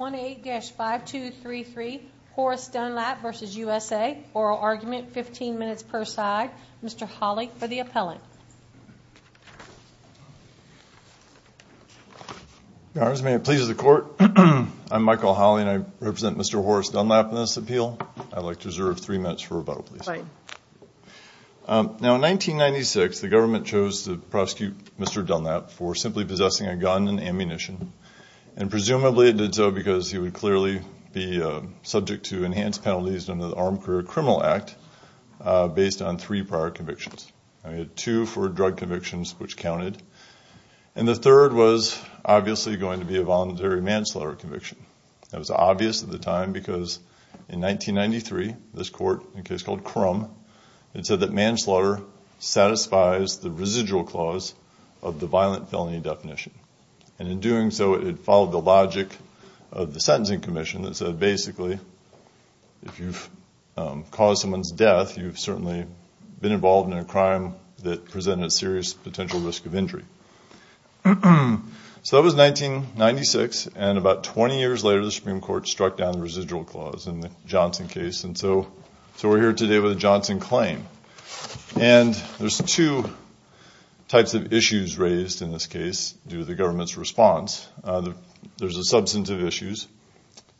1A-5233 Horace Dunlap v. USA, oral argument, 15 minutes per side, Mr. Hawley for the appellant. Your honors, may it please the court, I'm Michael Hawley and I represent Mr. Horace Dunlap in this appeal. I'd like to reserve three minutes for rebuttal please. Now in 1996 the government chose to prosecute Mr. Dunlap for simply possessing a gun and ammunition and presumably it did so because he would clearly be subject to enhanced penalties under the Armed Career Criminal Act based on three prior convictions. I had two for drug convictions which counted and the third was obviously going to be a voluntary manslaughter conviction. That was obvious at the time because in 1993 this court, a case called Crum, it said that manslaughter satisfies the residual clause of the violent felony definition and in doing so it followed the logic of the Sentencing Commission that said basically if you've caused someone's death you've certainly been involved in a crime that presented a serious potential risk of injury. So that was 1996 and about 20 years later the Supreme Court struck down the residual clause in the Johnson case and so we're here today with a Johnson claim and there's two types of issues raised in this case due to the government's response. There's a substance of issues.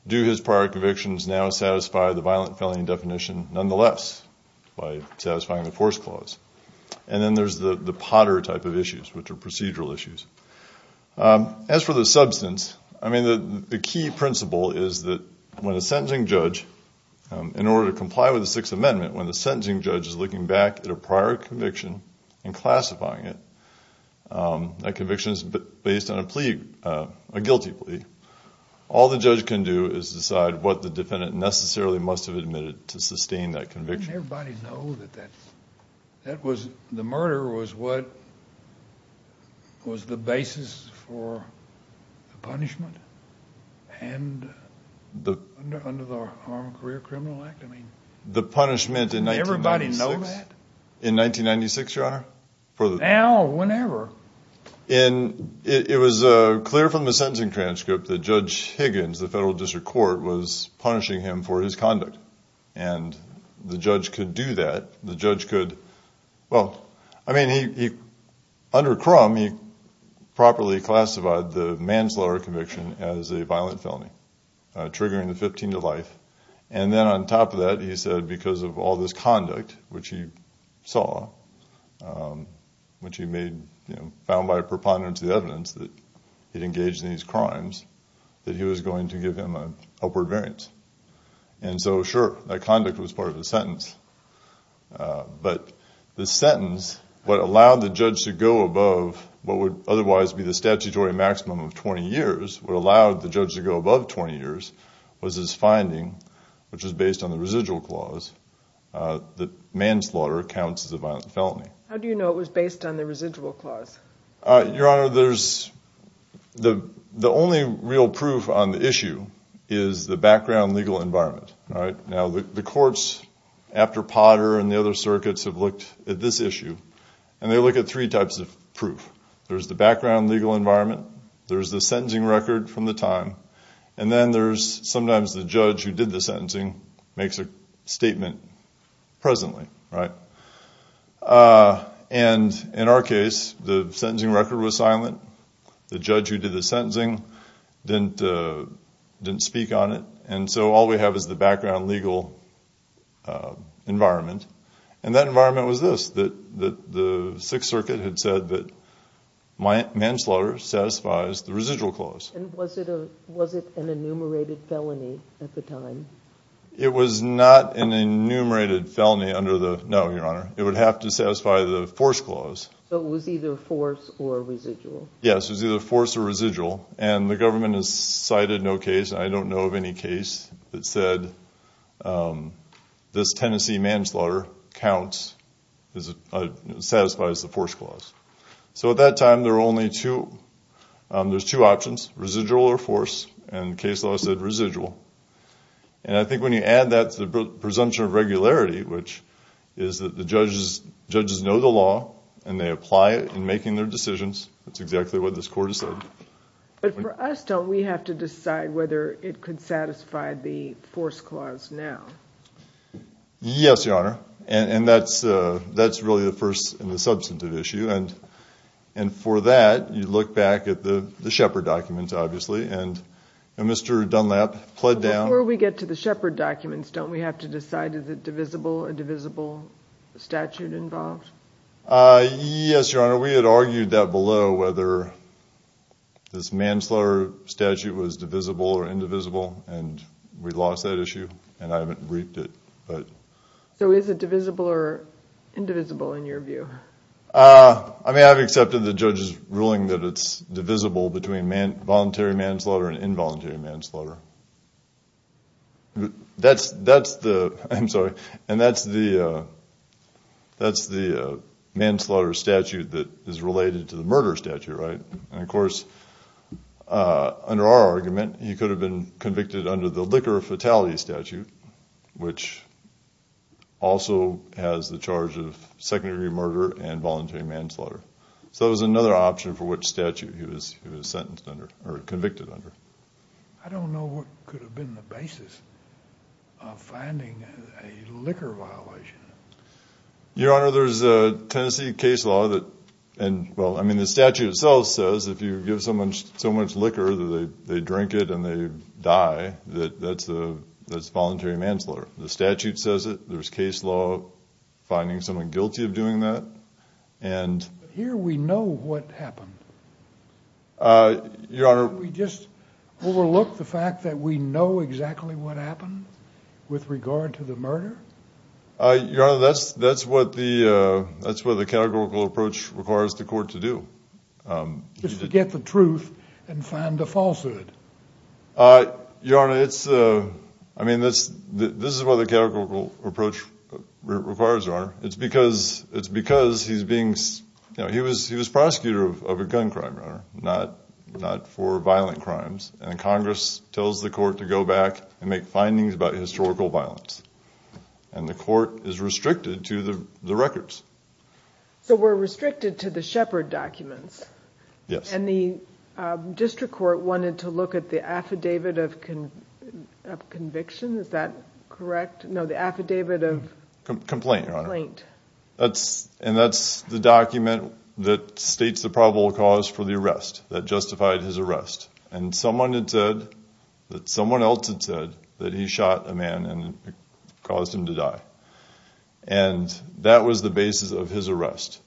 Do his prior convictions now satisfy the violent felony definition nonetheless by satisfying the force clause? And then there's the the potter type of issues which are procedural issues. As for the substance, I mean the key principle is that when a sentencing judge, in order to comply with the Sixth Amendment, when the sentencing judge is looking back at a prior conviction and classifying it, that conviction is based on a plea, a guilty plea, all the judge can do is decide what the defendant necessarily must have admitted to sustain that Under the Harmed Career Criminal Act? The punishment in 1996? Everybody know that? In 1996, your honor? Now, whenever. It was clear from the sentencing transcript that Judge Higgins, the federal district court, was punishing him for his conduct and the judge could do that. The judge could, well I mean he, under Crum, he properly classified the manslaughter conviction as a violent felony, triggering the 15 to life, and then on top of that he said because of all this conduct which he saw, which he made, you know, found by preponderance the evidence that he'd engaged in these crimes, that he was going to give him an upward variance. And so sure, that conduct was part of the sentence, but the sentence, what allowed the judge to go above what would otherwise be the statutory maximum of 20 years, what allowed the judge to go above 20 years was his finding, which is based on the residual clause, that manslaughter counts as a violent felony. How do you know it was based on the residual clause? Your honor, there's, the only real proof on the issue is the background legal environment, right? Now, the courts after Potter and the other circuits have looked at this issue, and they look at three types of proof. There's the background legal environment, there's the sentencing record from the time, and then there's sometimes the judge who did the sentencing makes a statement presently, right? And in our case, the sentencing record was silent, the judge who did the sentencing didn't speak on it, and so all we have is the background legal environment. And that environment was this, that the Sixth Circuit had said that manslaughter satisfies the residual clause. And was it an enumerated felony at the time? It was not an enumerated felony under the, no, your honor, it would have to satisfy the force clause. So it was either force or residual? Yes, it was either force or residual, and the government has cited no case, I don't know of any case that said this Tennessee manslaughter counts, satisfies the force clause. So at that time, there were only two, there's two options, residual or force, and case law said residual. And I think when you add that to the presumption of regularity, which is that the judges know the law, and they apply it in making their decisions, that's exactly what this could satisfy the force clause now. Yes, your honor, and that's really the first and the substantive issue, and for that, you look back at the Shepard documents, obviously, and Mr. Dunlap pled down- Before we get to the Shepard documents, don't we have to decide, is it divisible, a divisible statute involved? Yes, your honor, we had argued that below, whether this manslaughter statute was divisible or indivisible, and we lost that issue, and I haven't briefed it. So is it divisible or indivisible, in your view? I mean, I've accepted the judge's ruling that it's divisible between voluntary manslaughter and involuntary manslaughter. That's the, I'm sorry, and that's the manslaughter statute that is related to the murder statute, right? And of course, under our argument, he could have been convicted under the liquor fatality statute, which also has the charge of secondary murder and voluntary manslaughter. So that was another option for which statute he was sentenced under, or convicted under. I don't know what could have been the basis of finding a liquor violation. Your honor, there's a Tennessee case law that, and well, I mean, the statute itself says if you give someone so much liquor that they drink it and they die, that that's voluntary manslaughter. The statute says it, there's case law finding someone guilty of doing that, and... But here we know what happened. Your honor... Didn't we just overlook the fact that we know exactly what happened with regard to the murder? Your honor, that's what the categorical approach requires the court to do. Just forget the truth and find the falsehood. Your honor, it's, I mean, this is what the categorical approach requires, your honor. It's because he's being, he was prosecutor of a gun crime, your honor, not for violent crimes. And Congress tells the court to go back and make findings about historical violence. And the court is restricted to the records. So we're restricted to the Shepard documents? Yes. And the district court wanted to look at the affidavit of conviction, is that correct? No, the affidavit of... Complaint, your honor. Complaint. That's, and that's the document that states the probable cause for the arrest, that justified his arrest. And someone had said, that someone else had said that he shot a man and caused him to die. And that was the basis of his arrest.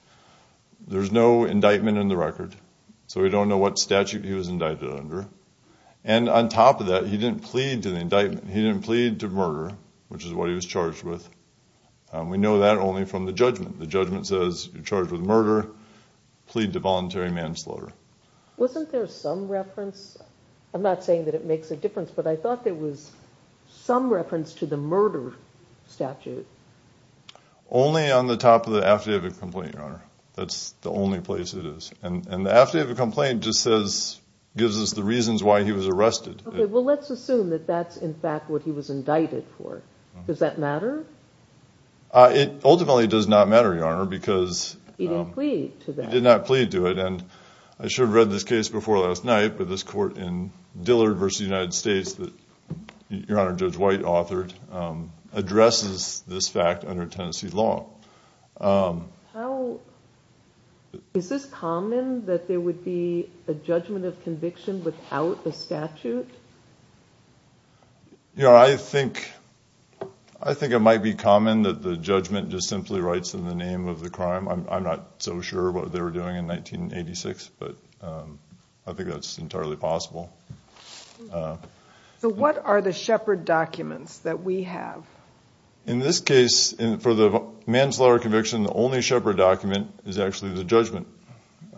There's no indictment in the record. So we don't know what statute he was indicted under. And on top of that, he didn't plead to the indictment. He didn't plead to murder, which is what he was charged with. We know that only from the judgment. The judgment says you're charged with murder, plead to voluntary manslaughter. Wasn't there some reference, I'm not saying that it makes a difference, but I thought there was some reference to the murder statute. Only on the top of the affidavit complaint, your honor. That's the only place it is. And the affidavit complaint just says, gives us the reasons why he was arrested. Okay, well let's assume that that's in fact what he was indicted for. Does that matter? It ultimately does not matter, your honor, because... He didn't plead to that. He did not plead to it. And I should have read this case before last night, but this court in the case that your honor Judge White authored, addresses this fact under Tennessee law. How... Is this common that there would be a judgment of conviction without a statute? You know, I think... I think it might be common that the judgment just simply writes in the name of the crime. I'm not so sure what they were doing in 1986, but I think that's entirely possible. So what are the Shepard documents that we have? In this case, for the manslaughter conviction, the only Shepard document is actually the judgment.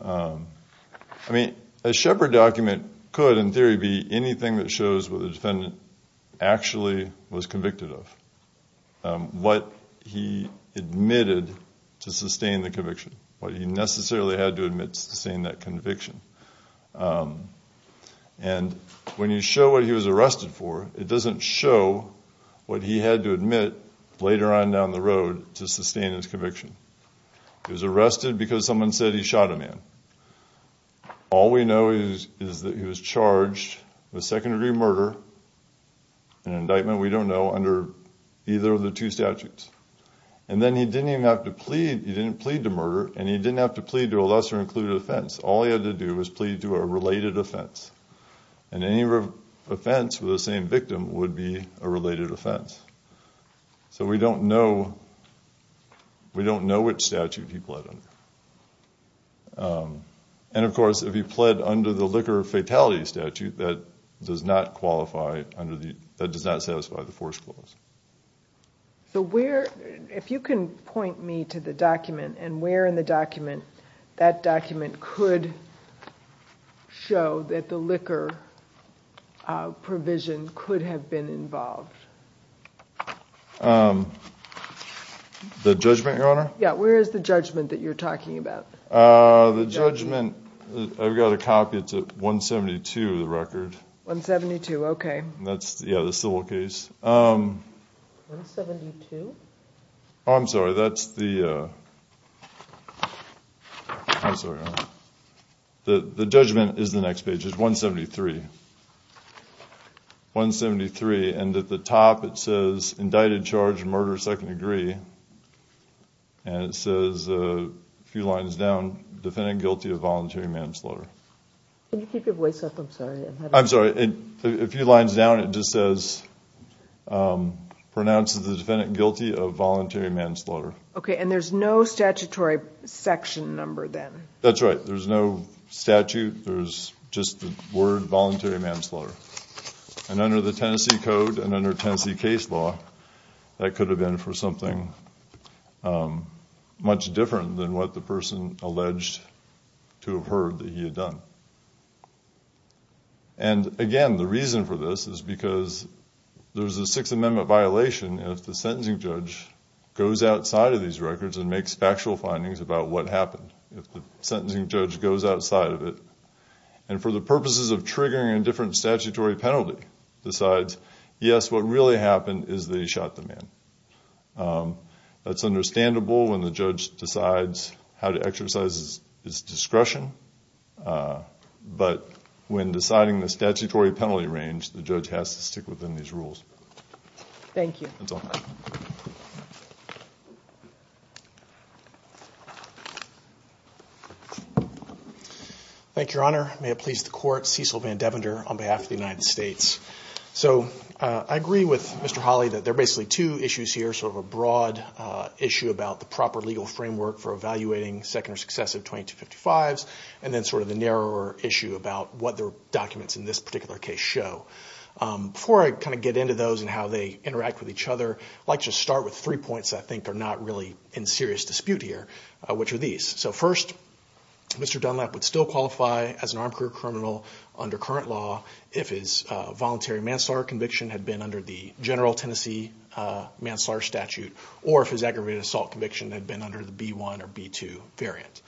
I mean, a Shepard document could in theory be anything that shows what the defendant actually was convicted of. What he admitted to sustain the conviction. What he necessarily had to admit to sustain that conviction. And when you show what he was arrested for, it doesn't show what he had to admit later on down the road to sustain his conviction. He was arrested because someone said he shot a man. All we know is that he was charged with second degree murder, an indictment we don't know, under either of the two statutes. And then he didn't even have to plead. He didn't plead to murder. And he didn't have to plead to a lesser included offense. All he had to do was plead to a related offense. And any offense with the same victim would be a related offense. So we don't know which statute he pled under. And of course, if he pled under the liquor fatality statute, that does not satisfy the force clause. So if you can point me to the document and where in the document that document could show that the liquor provision could have been involved. The judgment, your honor? Yeah, where is the judgment that you're talking about? The judgment, I've got a copy. It's at 172, the record. 172, okay. Yeah, the civil case. 172? Oh, I'm sorry. That's the, I'm sorry. The judgment is the next page. It's 173. 173. And at the top it says, indicted, charged, murder, second degree. And it says a few lines down, defendant guilty of voluntary manslaughter. Can you keep your voice up? I'm sorry. I'm sorry. A few lines down it just says, pronounces the defendant guilty of voluntary manslaughter. Okay, and there's no statutory section number then? That's right. There's no statute. There's just the word voluntary manslaughter. And under the Tennessee Code and under Tennessee case law, that could have been for something much different than what the person alleged to have heard that he had done. And, again, the reason for this is because there's a Sixth Amendment violation if the sentencing judge goes outside of these records and makes factual findings about what happened, if the sentencing judge goes outside of it and for the purposes of triggering a different statutory penalty decides, yes, what really happened is that he shot the man. That's understandable when the judge decides how to exercise his discretion. But when deciding the statutory penalty range, the judge has to stick within these rules. Thank you. That's all. Thank you, Your Honor. May it please the Court, Cecil Van Devender on behalf of the United States. So I agree with Mr. Hawley that there are basically two issues here, sort of a broad issue about the proper legal framework for evaluating second or successive 2255s, and then sort of the narrower issue about what the documents in this particular case show. Before I kind of get into those and how they interact with each other, I'd like to start with three points I think are not really in serious dispute here, which are these. So first, Mr. Dunlap would still qualify as an armed career criminal under current law if his voluntary manslaughter conviction had been under the general Tennessee manslaughter statute or if his aggravated assault conviction had been under the B-1 or B-2 variant.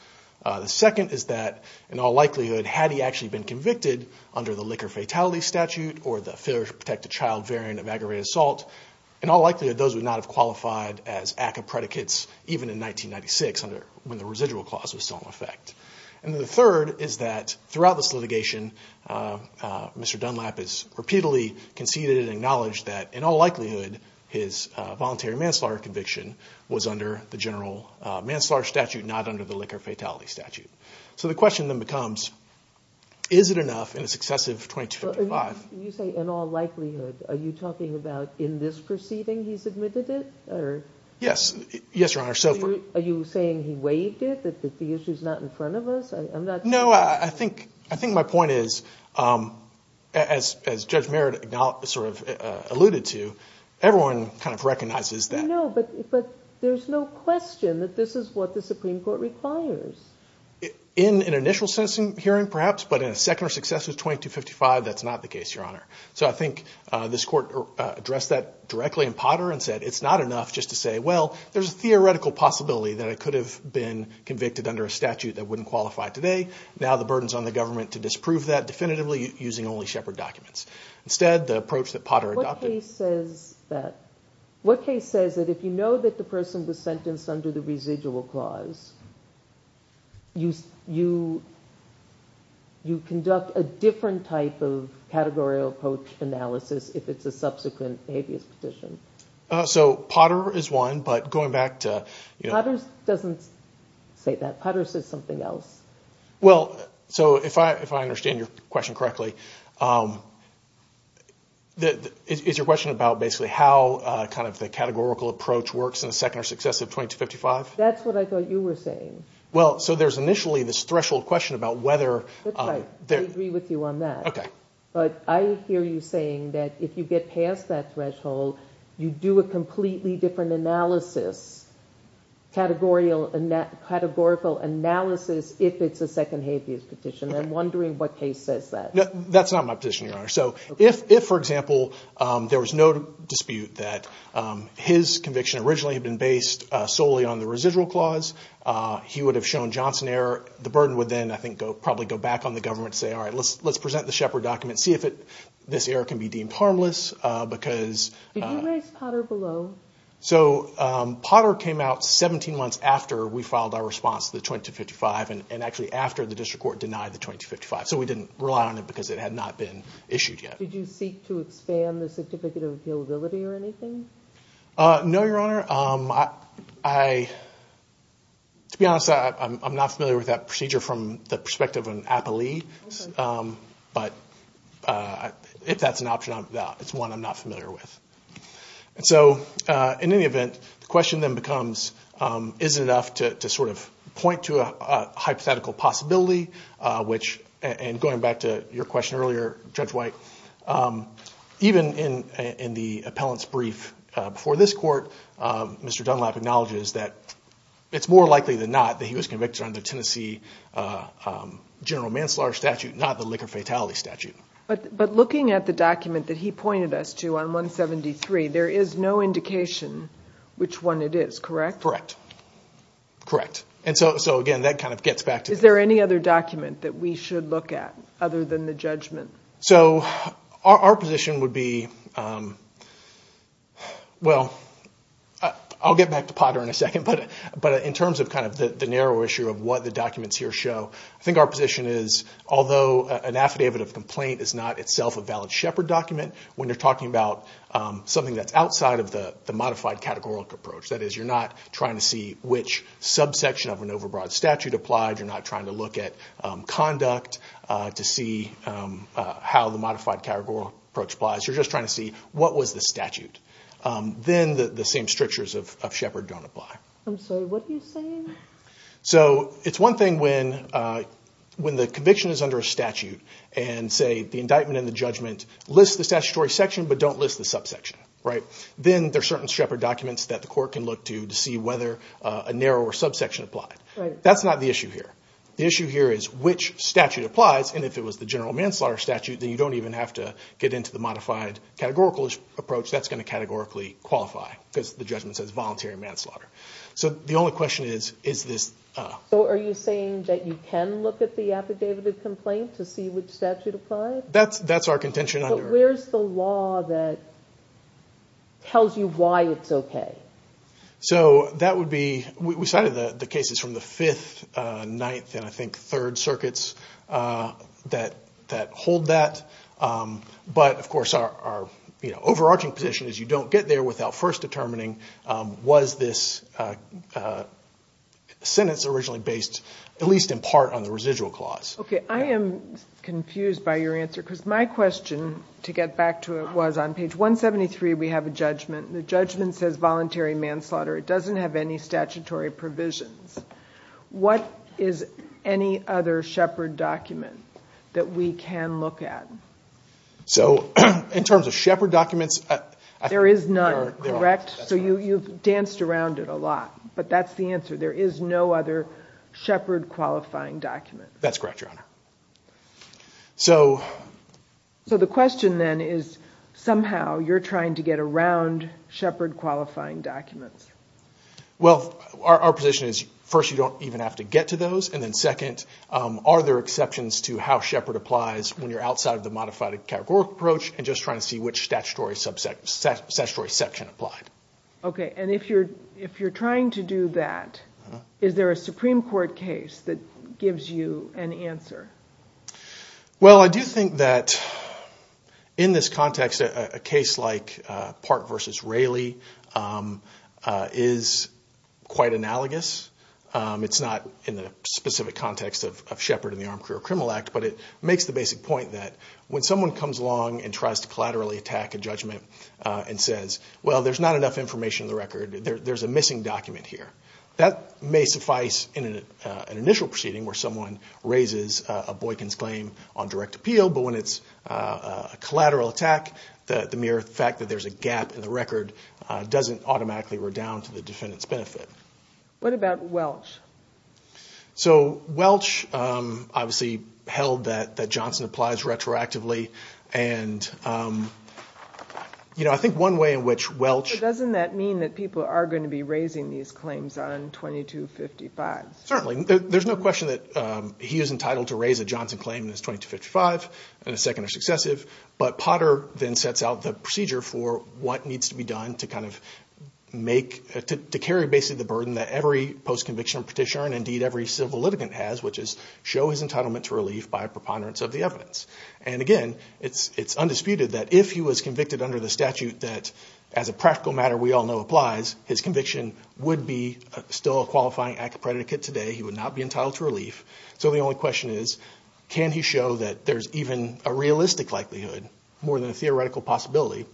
The second is that in all likelihood had he actually been convicted under the liquor fatality statute or the failure to protect a child variant of aggravated assault, in all likelihood those would not have qualified as ACCA predicates even in 1996 when the residual clause was still in effect. And the third is that throughout this litigation, Mr. Dunlap has repeatedly conceded and acknowledged that in all likelihood his voluntary manslaughter conviction was under the general manslaughter statute, not under the liquor fatality statute. So the question then becomes, is it enough in a successive 2255? You say in all likelihood. Are you talking about in this proceeding he's admitted it? Yes, Your Honor, so far. Are you saying he waived it, that the issue is not in front of us? No, I think my point is, as Judge Merritt sort of alluded to, everyone kind of recognizes that. No, but there's no question that this is what the Supreme Court requires. In an initial sentencing hearing, perhaps, but in a second or successive 2255 that's not the case, Your Honor. So I think this Court addressed that directly in Potter and said it's not enough just to say, well, there's a theoretical possibility that I could have been convicted under a statute that wouldn't qualify today. Now the burden's on the government to disprove that definitively using only Shepard documents. Instead, the approach that Potter adopted. What case says that if you know that the person was sentenced under the residual clause, you conduct a different type of categorical approach analysis if it's a subsequent habeas petition? So Potter is one, but going back to – Potter doesn't say that. Potter says something else. Well, so if I understand your question correctly, is your question about basically how kind of the categorical approach works in the second or successive 2255? That's what I thought you were saying. Well, so there's initially this threshold question about whether – That's right. I agree with you on that. Okay. But I hear you saying that if you get past that threshold, you do a completely different analysis, categorical analysis if it's a second habeas petition. I'm wondering what case says that. That's not my position, Your Honor. So if, for example, there was no dispute that his conviction originally had been based solely on the residual clause, he would have shown Johnson error. The burden would then, I think, probably go back on the government to say, all right, let's present the Shepard document, see if this error can be deemed harmless because – Did you raise Potter below? So Potter came out 17 months after we filed our response to the 2255 and actually after the district court denied the 2255. So we didn't rely on it because it had not been issued yet. Did you seek to expand the certificate of appealability or anything? No, Your Honor. To be honest, I'm not familiar with that procedure from the perspective of an appellee. But if that's an option, it's one I'm not familiar with. So in any event, the question then becomes, is it enough to sort of point to a hypothetical possibility, which – and going back to your question earlier, Judge White, even in the appellant's brief before this court, Mr. Dunlap acknowledges that it's more likely than not that he was convicted under Tennessee general manslaughter statute, not the liquor fatality statute. But looking at the document that he pointed us to on 173, there is no indication which one it is, correct? Correct. Correct. And so, again, that kind of gets back to – Is there any other document that we should look at other than the judgment? So our position would be – well, I'll get back to Potter in a second, but in terms of kind of the narrow issue of what the documents here show, I think our position is although an affidavit of complaint is not itself a valid Shepard document, when you're talking about something that's outside of the modified categorical approach, that is you're not trying to see which subsection of an overbroad statute applied, you're not trying to look at conduct to see how the modified categorical approach applies, you're just trying to see what was the statute. Then the same strictures of Shepard don't apply. I'm sorry, what are you saying? So it's one thing when the conviction is under a statute and, say, the indictment and the judgment list the statutory section but don't list the subsection, right? Then there are certain Shepard documents that the court can look to to see whether a narrower subsection applied. That's not the issue here. The issue here is which statute applies, and if it was the general manslaughter statute, then you don't even have to get into the modified categorical approach. That's going to categorically qualify because the judgment says voluntary manslaughter. So the only question is, is this... So are you saying that you can look at the affidavit of complaint to see which statute applied? That's our contention. But where's the law that tells you why it's okay? So that would be, we cited the cases from the Fifth, Ninth, and I think Third Circuits that hold that. But, of course, our overarching position is you don't get there without first determining was this sentence originally based at least in part on the residual clause. Okay, I am confused by your answer because my question, to get back to it, was on page 173 we have a judgment. The judgment says voluntary manslaughter. It doesn't have any statutory provisions. What is any other Shepard document that we can look at? So in terms of Shepard documents... There is none, correct? So you've danced around it a lot, but that's the answer. There is no other Shepard qualifying document. That's correct, Your Honor. So... So the question then is somehow you're trying to get around Shepard qualifying documents. Well, our position is first you don't even have to get to those, and then second, are there exceptions to how Shepard applies when you're outside of the modified categorical approach and just trying to see which statutory section applied? Okay, and if you're trying to do that, is there a Supreme Court case that gives you an answer? Well, I do think that in this context a case like Park v. Raley is quite analogous. It's not in the specific context of Shepard in the Armed Career Criminal Act, but it makes the basic point that when someone comes along and tries to collaterally attack a judgment and says, well, there's not enough information in the record, there's a missing document here, that may suffice in an initial proceeding where someone raises a Boykin's claim on direct appeal, but when it's a collateral attack, the mere fact that there's a gap in the record doesn't automatically redound to the defendant's benefit. What about Welch? So Welch obviously held that Johnson applies retroactively, and I think one way in which Welch- But doesn't that mean that people are going to be raising these claims on 2255? Certainly. There's no question that he is entitled to raise a Johnson claim on 2255 and a second or successive, but Potter then sets out the procedure for what needs to be done to carry basically the burden that every post-conviction petitioner and indeed every civil litigant has, which is show his entitlement to relief by preponderance of the evidence. And again, it's undisputed that if he was convicted under the statute that, as a practical matter we all know applies, his conviction would be still a qualifying act of predicate today. He would not be entitled to relief. So the only question is can he show that there's even a realistic likelihood, more than a theoretical possibility,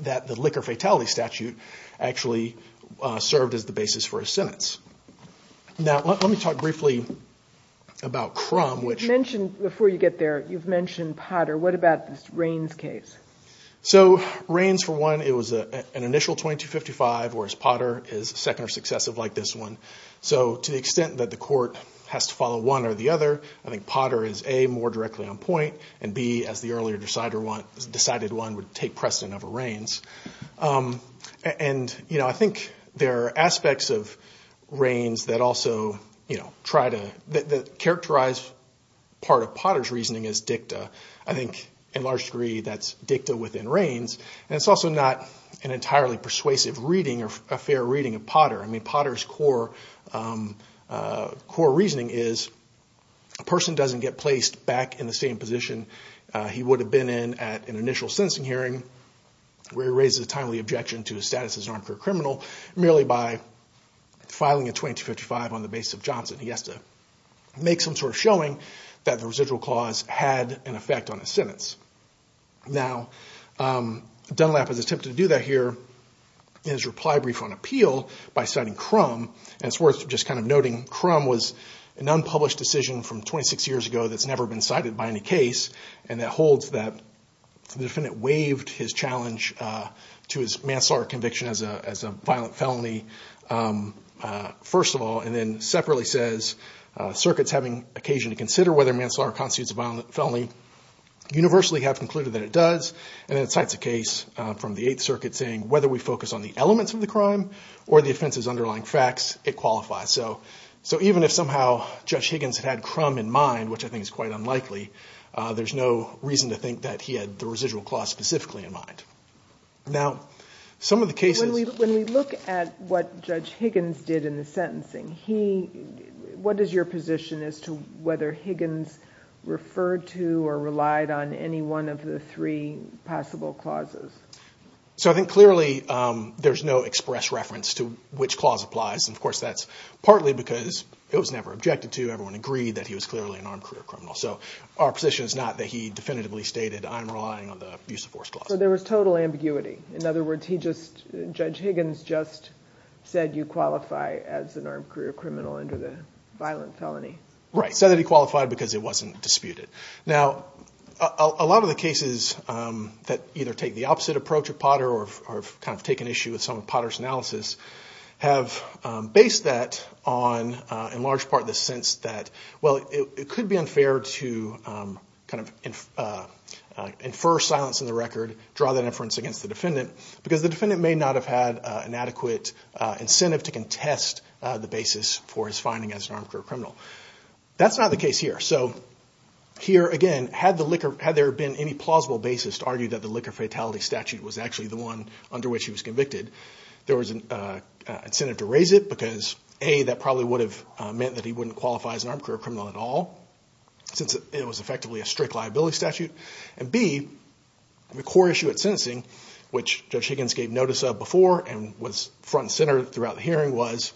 that the Liquor Fatality Statute actually served as the basis for his sentence. Now let me talk briefly about Crum, which- You've mentioned, before you get there, you've mentioned Potter. What about this Rains case? So Rains, for one, it was an initial 2255, whereas Potter is second or successive like this one. So to the extent that the court has to follow one or the other, I think Potter is, A, more directly on point, and B, as the earlier decided one, would take precedent over Rains. And I think there are aspects of Rains that also try to- that characterize part of Potter's reasoning as dicta. I think, in large degree, that's dicta within Rains. And it's also not an entirely persuasive reading or a fair reading of Potter. I mean, Potter's core reasoning is a person doesn't get placed back in the same position he would have been in at an initial sentencing hearing, where he raises a timely objection to his status as an armed career criminal, merely by filing a 2255 on the basis of Johnson. He has to make some sort of showing that the residual clause had an effect on his sentence. Now, Dunlap has attempted to do that here in his reply brief on appeal by citing Crum. And it's worth just kind of noting Crum was an unpublished decision from 26 years ago that's never been cited by any case, and that holds that the defendant waived his challenge to his manslaughter conviction as a violent felony, first of all, and then separately says, circuits having occasion to consider whether manslaughter constitutes a violent felony universally have concluded that it does. And then it cites a case from the Eighth Circuit saying, whether we focus on the elements of the crime or the offense's underlying facts, it qualifies. So even if somehow Judge Higgins had Crum in mind, which I think is quite unlikely, there's no reason to think that he had the residual clause specifically in mind. Now, some of the cases – When we look at what Judge Higgins did in the sentencing, what is your position as to whether Higgins referred to or relied on any one of the three possible clauses? So I think clearly there's no express reference to which clause applies, and of course that's partly because it was never objected to. Everyone agreed that he was clearly an armed career criminal. So our position is not that he definitively stated, I'm relying on the abuse of force clause. So there was total ambiguity. In other words, Judge Higgins just said you qualify as an armed career criminal under the violent felony. Right, said that he qualified because it wasn't disputed. Now, a lot of the cases that either take the opposite approach of Potter or have kind of taken issue with some of Potter's analysis have based that on, in large part, the sense that, well, it could be unfair to kind of infer silence in the record, draw that inference against the defendant, because the defendant may not have had an adequate incentive to contest the basis for his finding as an armed career criminal. That's not the case here. So here, again, had there been any plausible basis to argue that the liquor fatality statute was actually the one under which he was convicted, there was an incentive to raise it, because A, that probably would have meant that he wouldn't qualify as an armed career criminal at all, since it was effectively a strict liability statute. And B, the core issue at sentencing, which Judge Higgins gave notice of before and was front and center throughout the hearing, was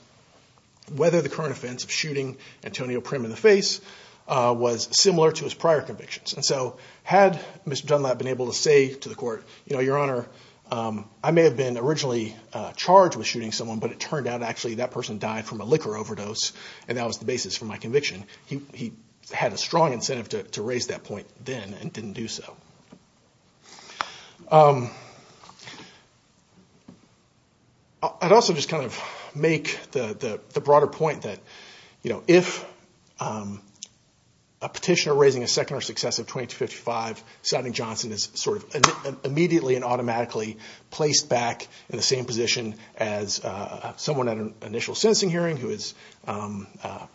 whether the current offense of shooting Antonio Prim in the face was similar to his prior convictions. And so had Mr. Dunlap been able to say to the court, you know, Your Honor, I may have been originally charged with shooting someone, but it turned out actually that person died from a liquor overdose and that was the basis for my conviction, he had a strong incentive to raise that point then and didn't do so. I'd also just kind of make the broader point that, you know, if a petitioner raising a second or successive 2255 citing Johnson is sort of immediately and automatically placed back in the same position as someone at an initial sentencing hearing who is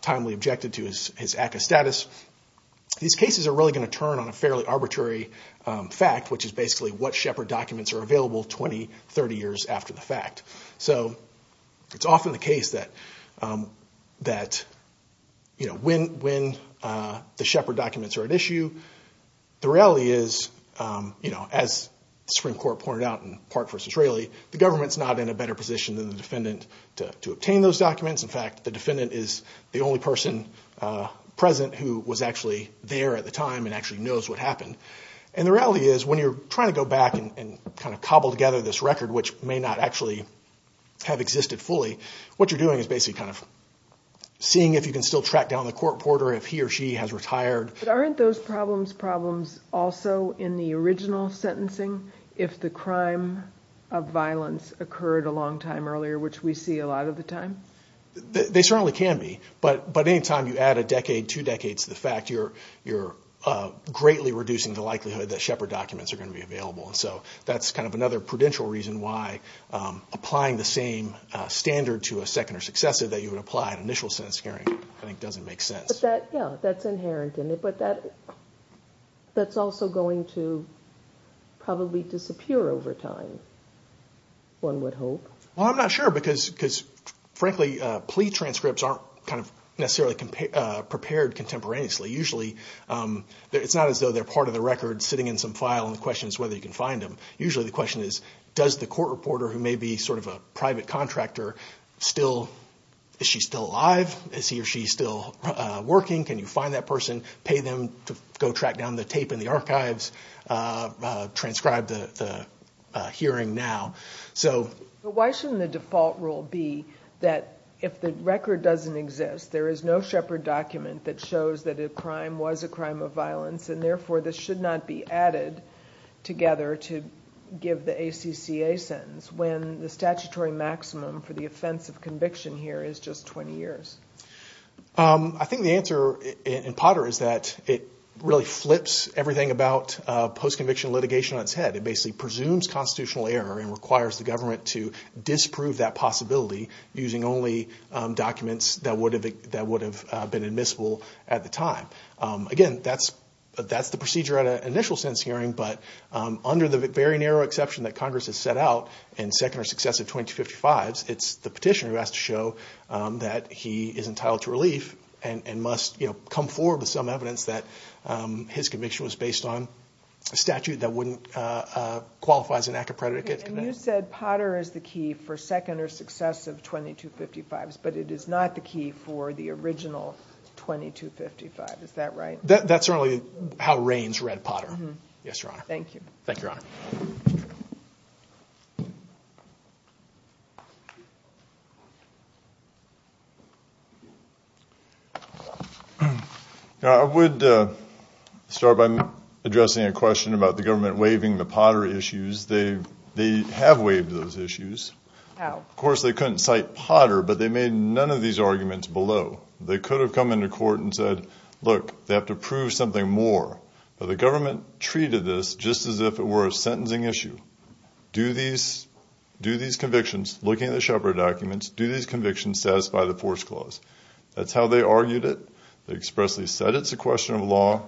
timely objected to his ACCA status, these cases are really going to turn on a fairly arbitrary, which is basically what Shepard documents are available 20, 30 years after the fact. So it's often the case that, you know, when the Shepard documents are at issue, the reality is, you know, as the Supreme Court pointed out in Park v. Railey, the government's not in a better position than the defendant to obtain those documents. In fact, the defendant is the only person present who was actually there at the time and actually knows what happened. And the reality is, when you're trying to go back and kind of cobble together this record, which may not actually have existed fully, what you're doing is basically kind of seeing if you can still track down the court reporter if he or she has retired. But aren't those problems problems also in the original sentencing if the crime of violence occurred a long time earlier, which we see a lot of the time? They certainly can be. But any time you add a decade, two decades to the fact, you're greatly reducing the likelihood that Shepard documents are going to be available. And so that's kind of another prudential reason why applying the same standard to a second or successive that you would apply in initial sentencing hearing I think doesn't make sense. But that, yeah, that's inherent in it. But that's also going to probably disappear over time, one would hope. Well, I'm not sure because, frankly, plea transcripts aren't kind of necessarily prepared contemporaneously. Usually it's not as though they're part of the record sitting in some file and the question is whether you can find them. Usually the question is does the court reporter, who may be sort of a private contractor, is she still alive? Is he or she still working? Can you find that person, pay them to go track down the tape in the archives, transcribe the hearing now? Why shouldn't the default rule be that if the record doesn't exist, there is no Shepard document that shows that a crime was a crime of violence and therefore this should not be added together to give the ACCA sentence when the statutory maximum for the offense of conviction here is just 20 years? I think the answer in Potter is that it really flips everything about post-conviction litigation on its head. It basically presumes constitutional error and requires the government to disprove that possibility using only documents that would have been admissible at the time. Again, that's the procedure at an initial sentence hearing, but under the very narrow exception that Congress has set out in second or successive 2255s, it's the petitioner who has to show that he is entitled to relief and must come forward with some evidence that his conviction was based on a statute that wouldn't qualify as an ACCA predicate. And you said Potter is the key for second or successive 2255s, but it is not the key for the original 2255. Is that right? That's certainly how Reigns read Potter. Thank you. Thank you, Your Honor. I would start by addressing a question about the government waiving the Potter issues. They have waived those issues. Of course, they couldn't cite Potter, but they made none of these arguments below. They could have come into court and said, look, they have to prove something more. But the government treated this just as if it were a sentencing issue. Do these convictions, looking at the Shepard documents, do these convictions satisfy the force clause? That's how they argued it. They expressly said it's a question of law.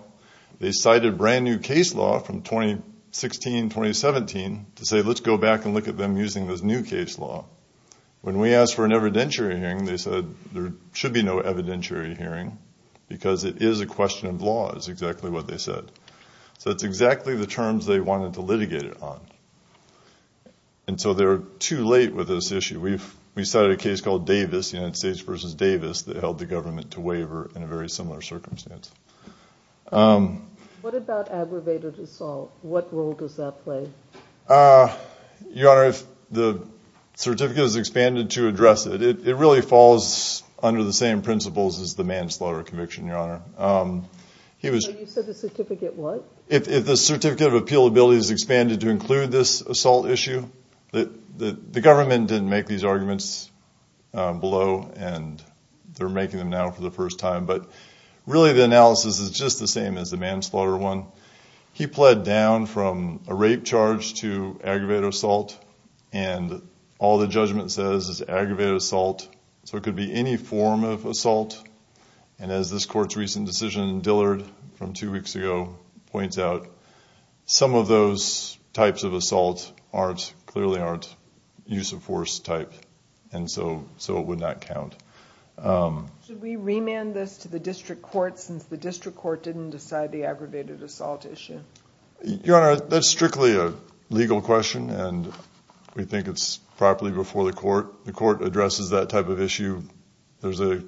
They cited brand-new case law from 2016-2017 to say, let's go back and look at them using this new case law. When we asked for an evidentiary hearing, they said there should be no evidentiary hearing because it is a question of law is exactly what they said. So it's exactly the terms they wanted to litigate it on. And so they're too late with this issue. We cited a case called Davis, United States v. Davis, that held the government to waiver in a very similar circumstance. What about aggravated assault? What role does that play? Your Honor, the certificate is expanded to address it. It really falls under the same principles as the manslaughter conviction, Your Honor. You said the certificate what? If the certificate of appealability is expanded to include this assault issue, the government didn't make these arguments below, and they're making them now for the first time. But really the analysis is just the same as the manslaughter one. He pled down from a rape charge to aggravated assault, and all the judgment says is aggravated assault. So it could be any form of assault. And as this court's recent decision in Dillard from two weeks ago points out, some of those types of assault clearly aren't use of force type, and so it would not count. Should we remand this to the district court since the district court didn't decide the aggravated assault issue? Your Honor, that's strictly a legal question, and we think it's properly before the court. The court addresses that type of issue. There's a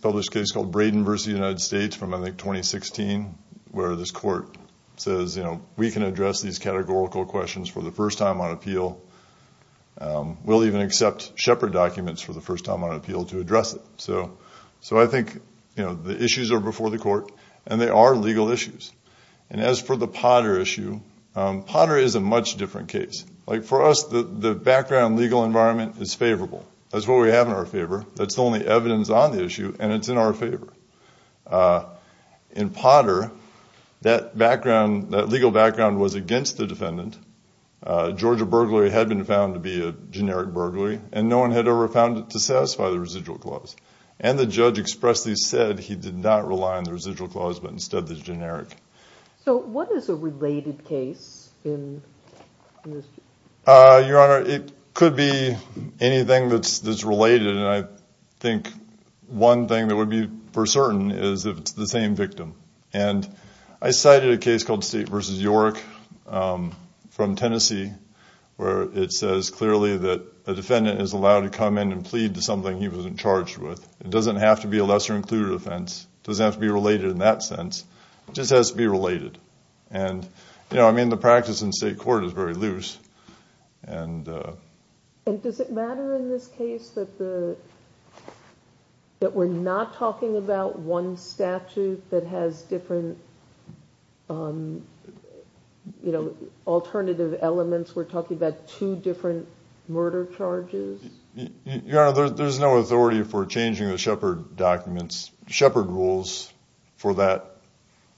published case called Braden v. United States from I think 2016 where this court says, you know, we can address these categorical questions for the first time on appeal. We'll even accept Shepard documents for the first time on appeal to address it. So I think, you know, the issues are before the court, and they are legal issues. And as for the Potter issue, Potter is a much different case. Like for us, the background legal environment is favorable. That's what we have in our favor. That's the only evidence on the issue, and it's in our favor. In Potter, that legal background was against the defendant. Georgia burglary had been found to be a generic burglary, and no one had ever found it to satisfy the residual clause. And the judge expressly said he did not rely on the residual clause but instead the generic. So what is a related case in this case? Your Honor, it could be anything that's related, and I think one thing that would be for certain is if it's the same victim. And I cited a case called State v. York from Tennessee where it says clearly that a defendant is allowed to come in and plead to something he wasn't charged with. It doesn't have to be a lesser-included offense. It doesn't have to be related in that sense. It just has to be related. I mean, the practice in state court is very loose. Does it matter in this case that we're not talking about one statute that has different alternative elements? We're talking about two different murder charges? Your Honor, there's no authority for changing the Shepherd rules for that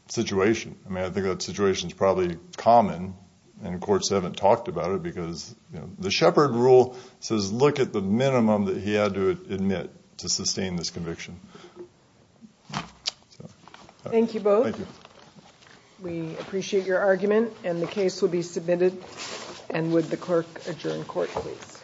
situation. I mean, I think that situation is probably common, and courts haven't talked about it because the Shepherd rule says look at the minimum that he had to admit to sustain this conviction. Thank you both. Thank you. We appreciate your argument, and the case will be submitted. And would the clerk adjourn court, please?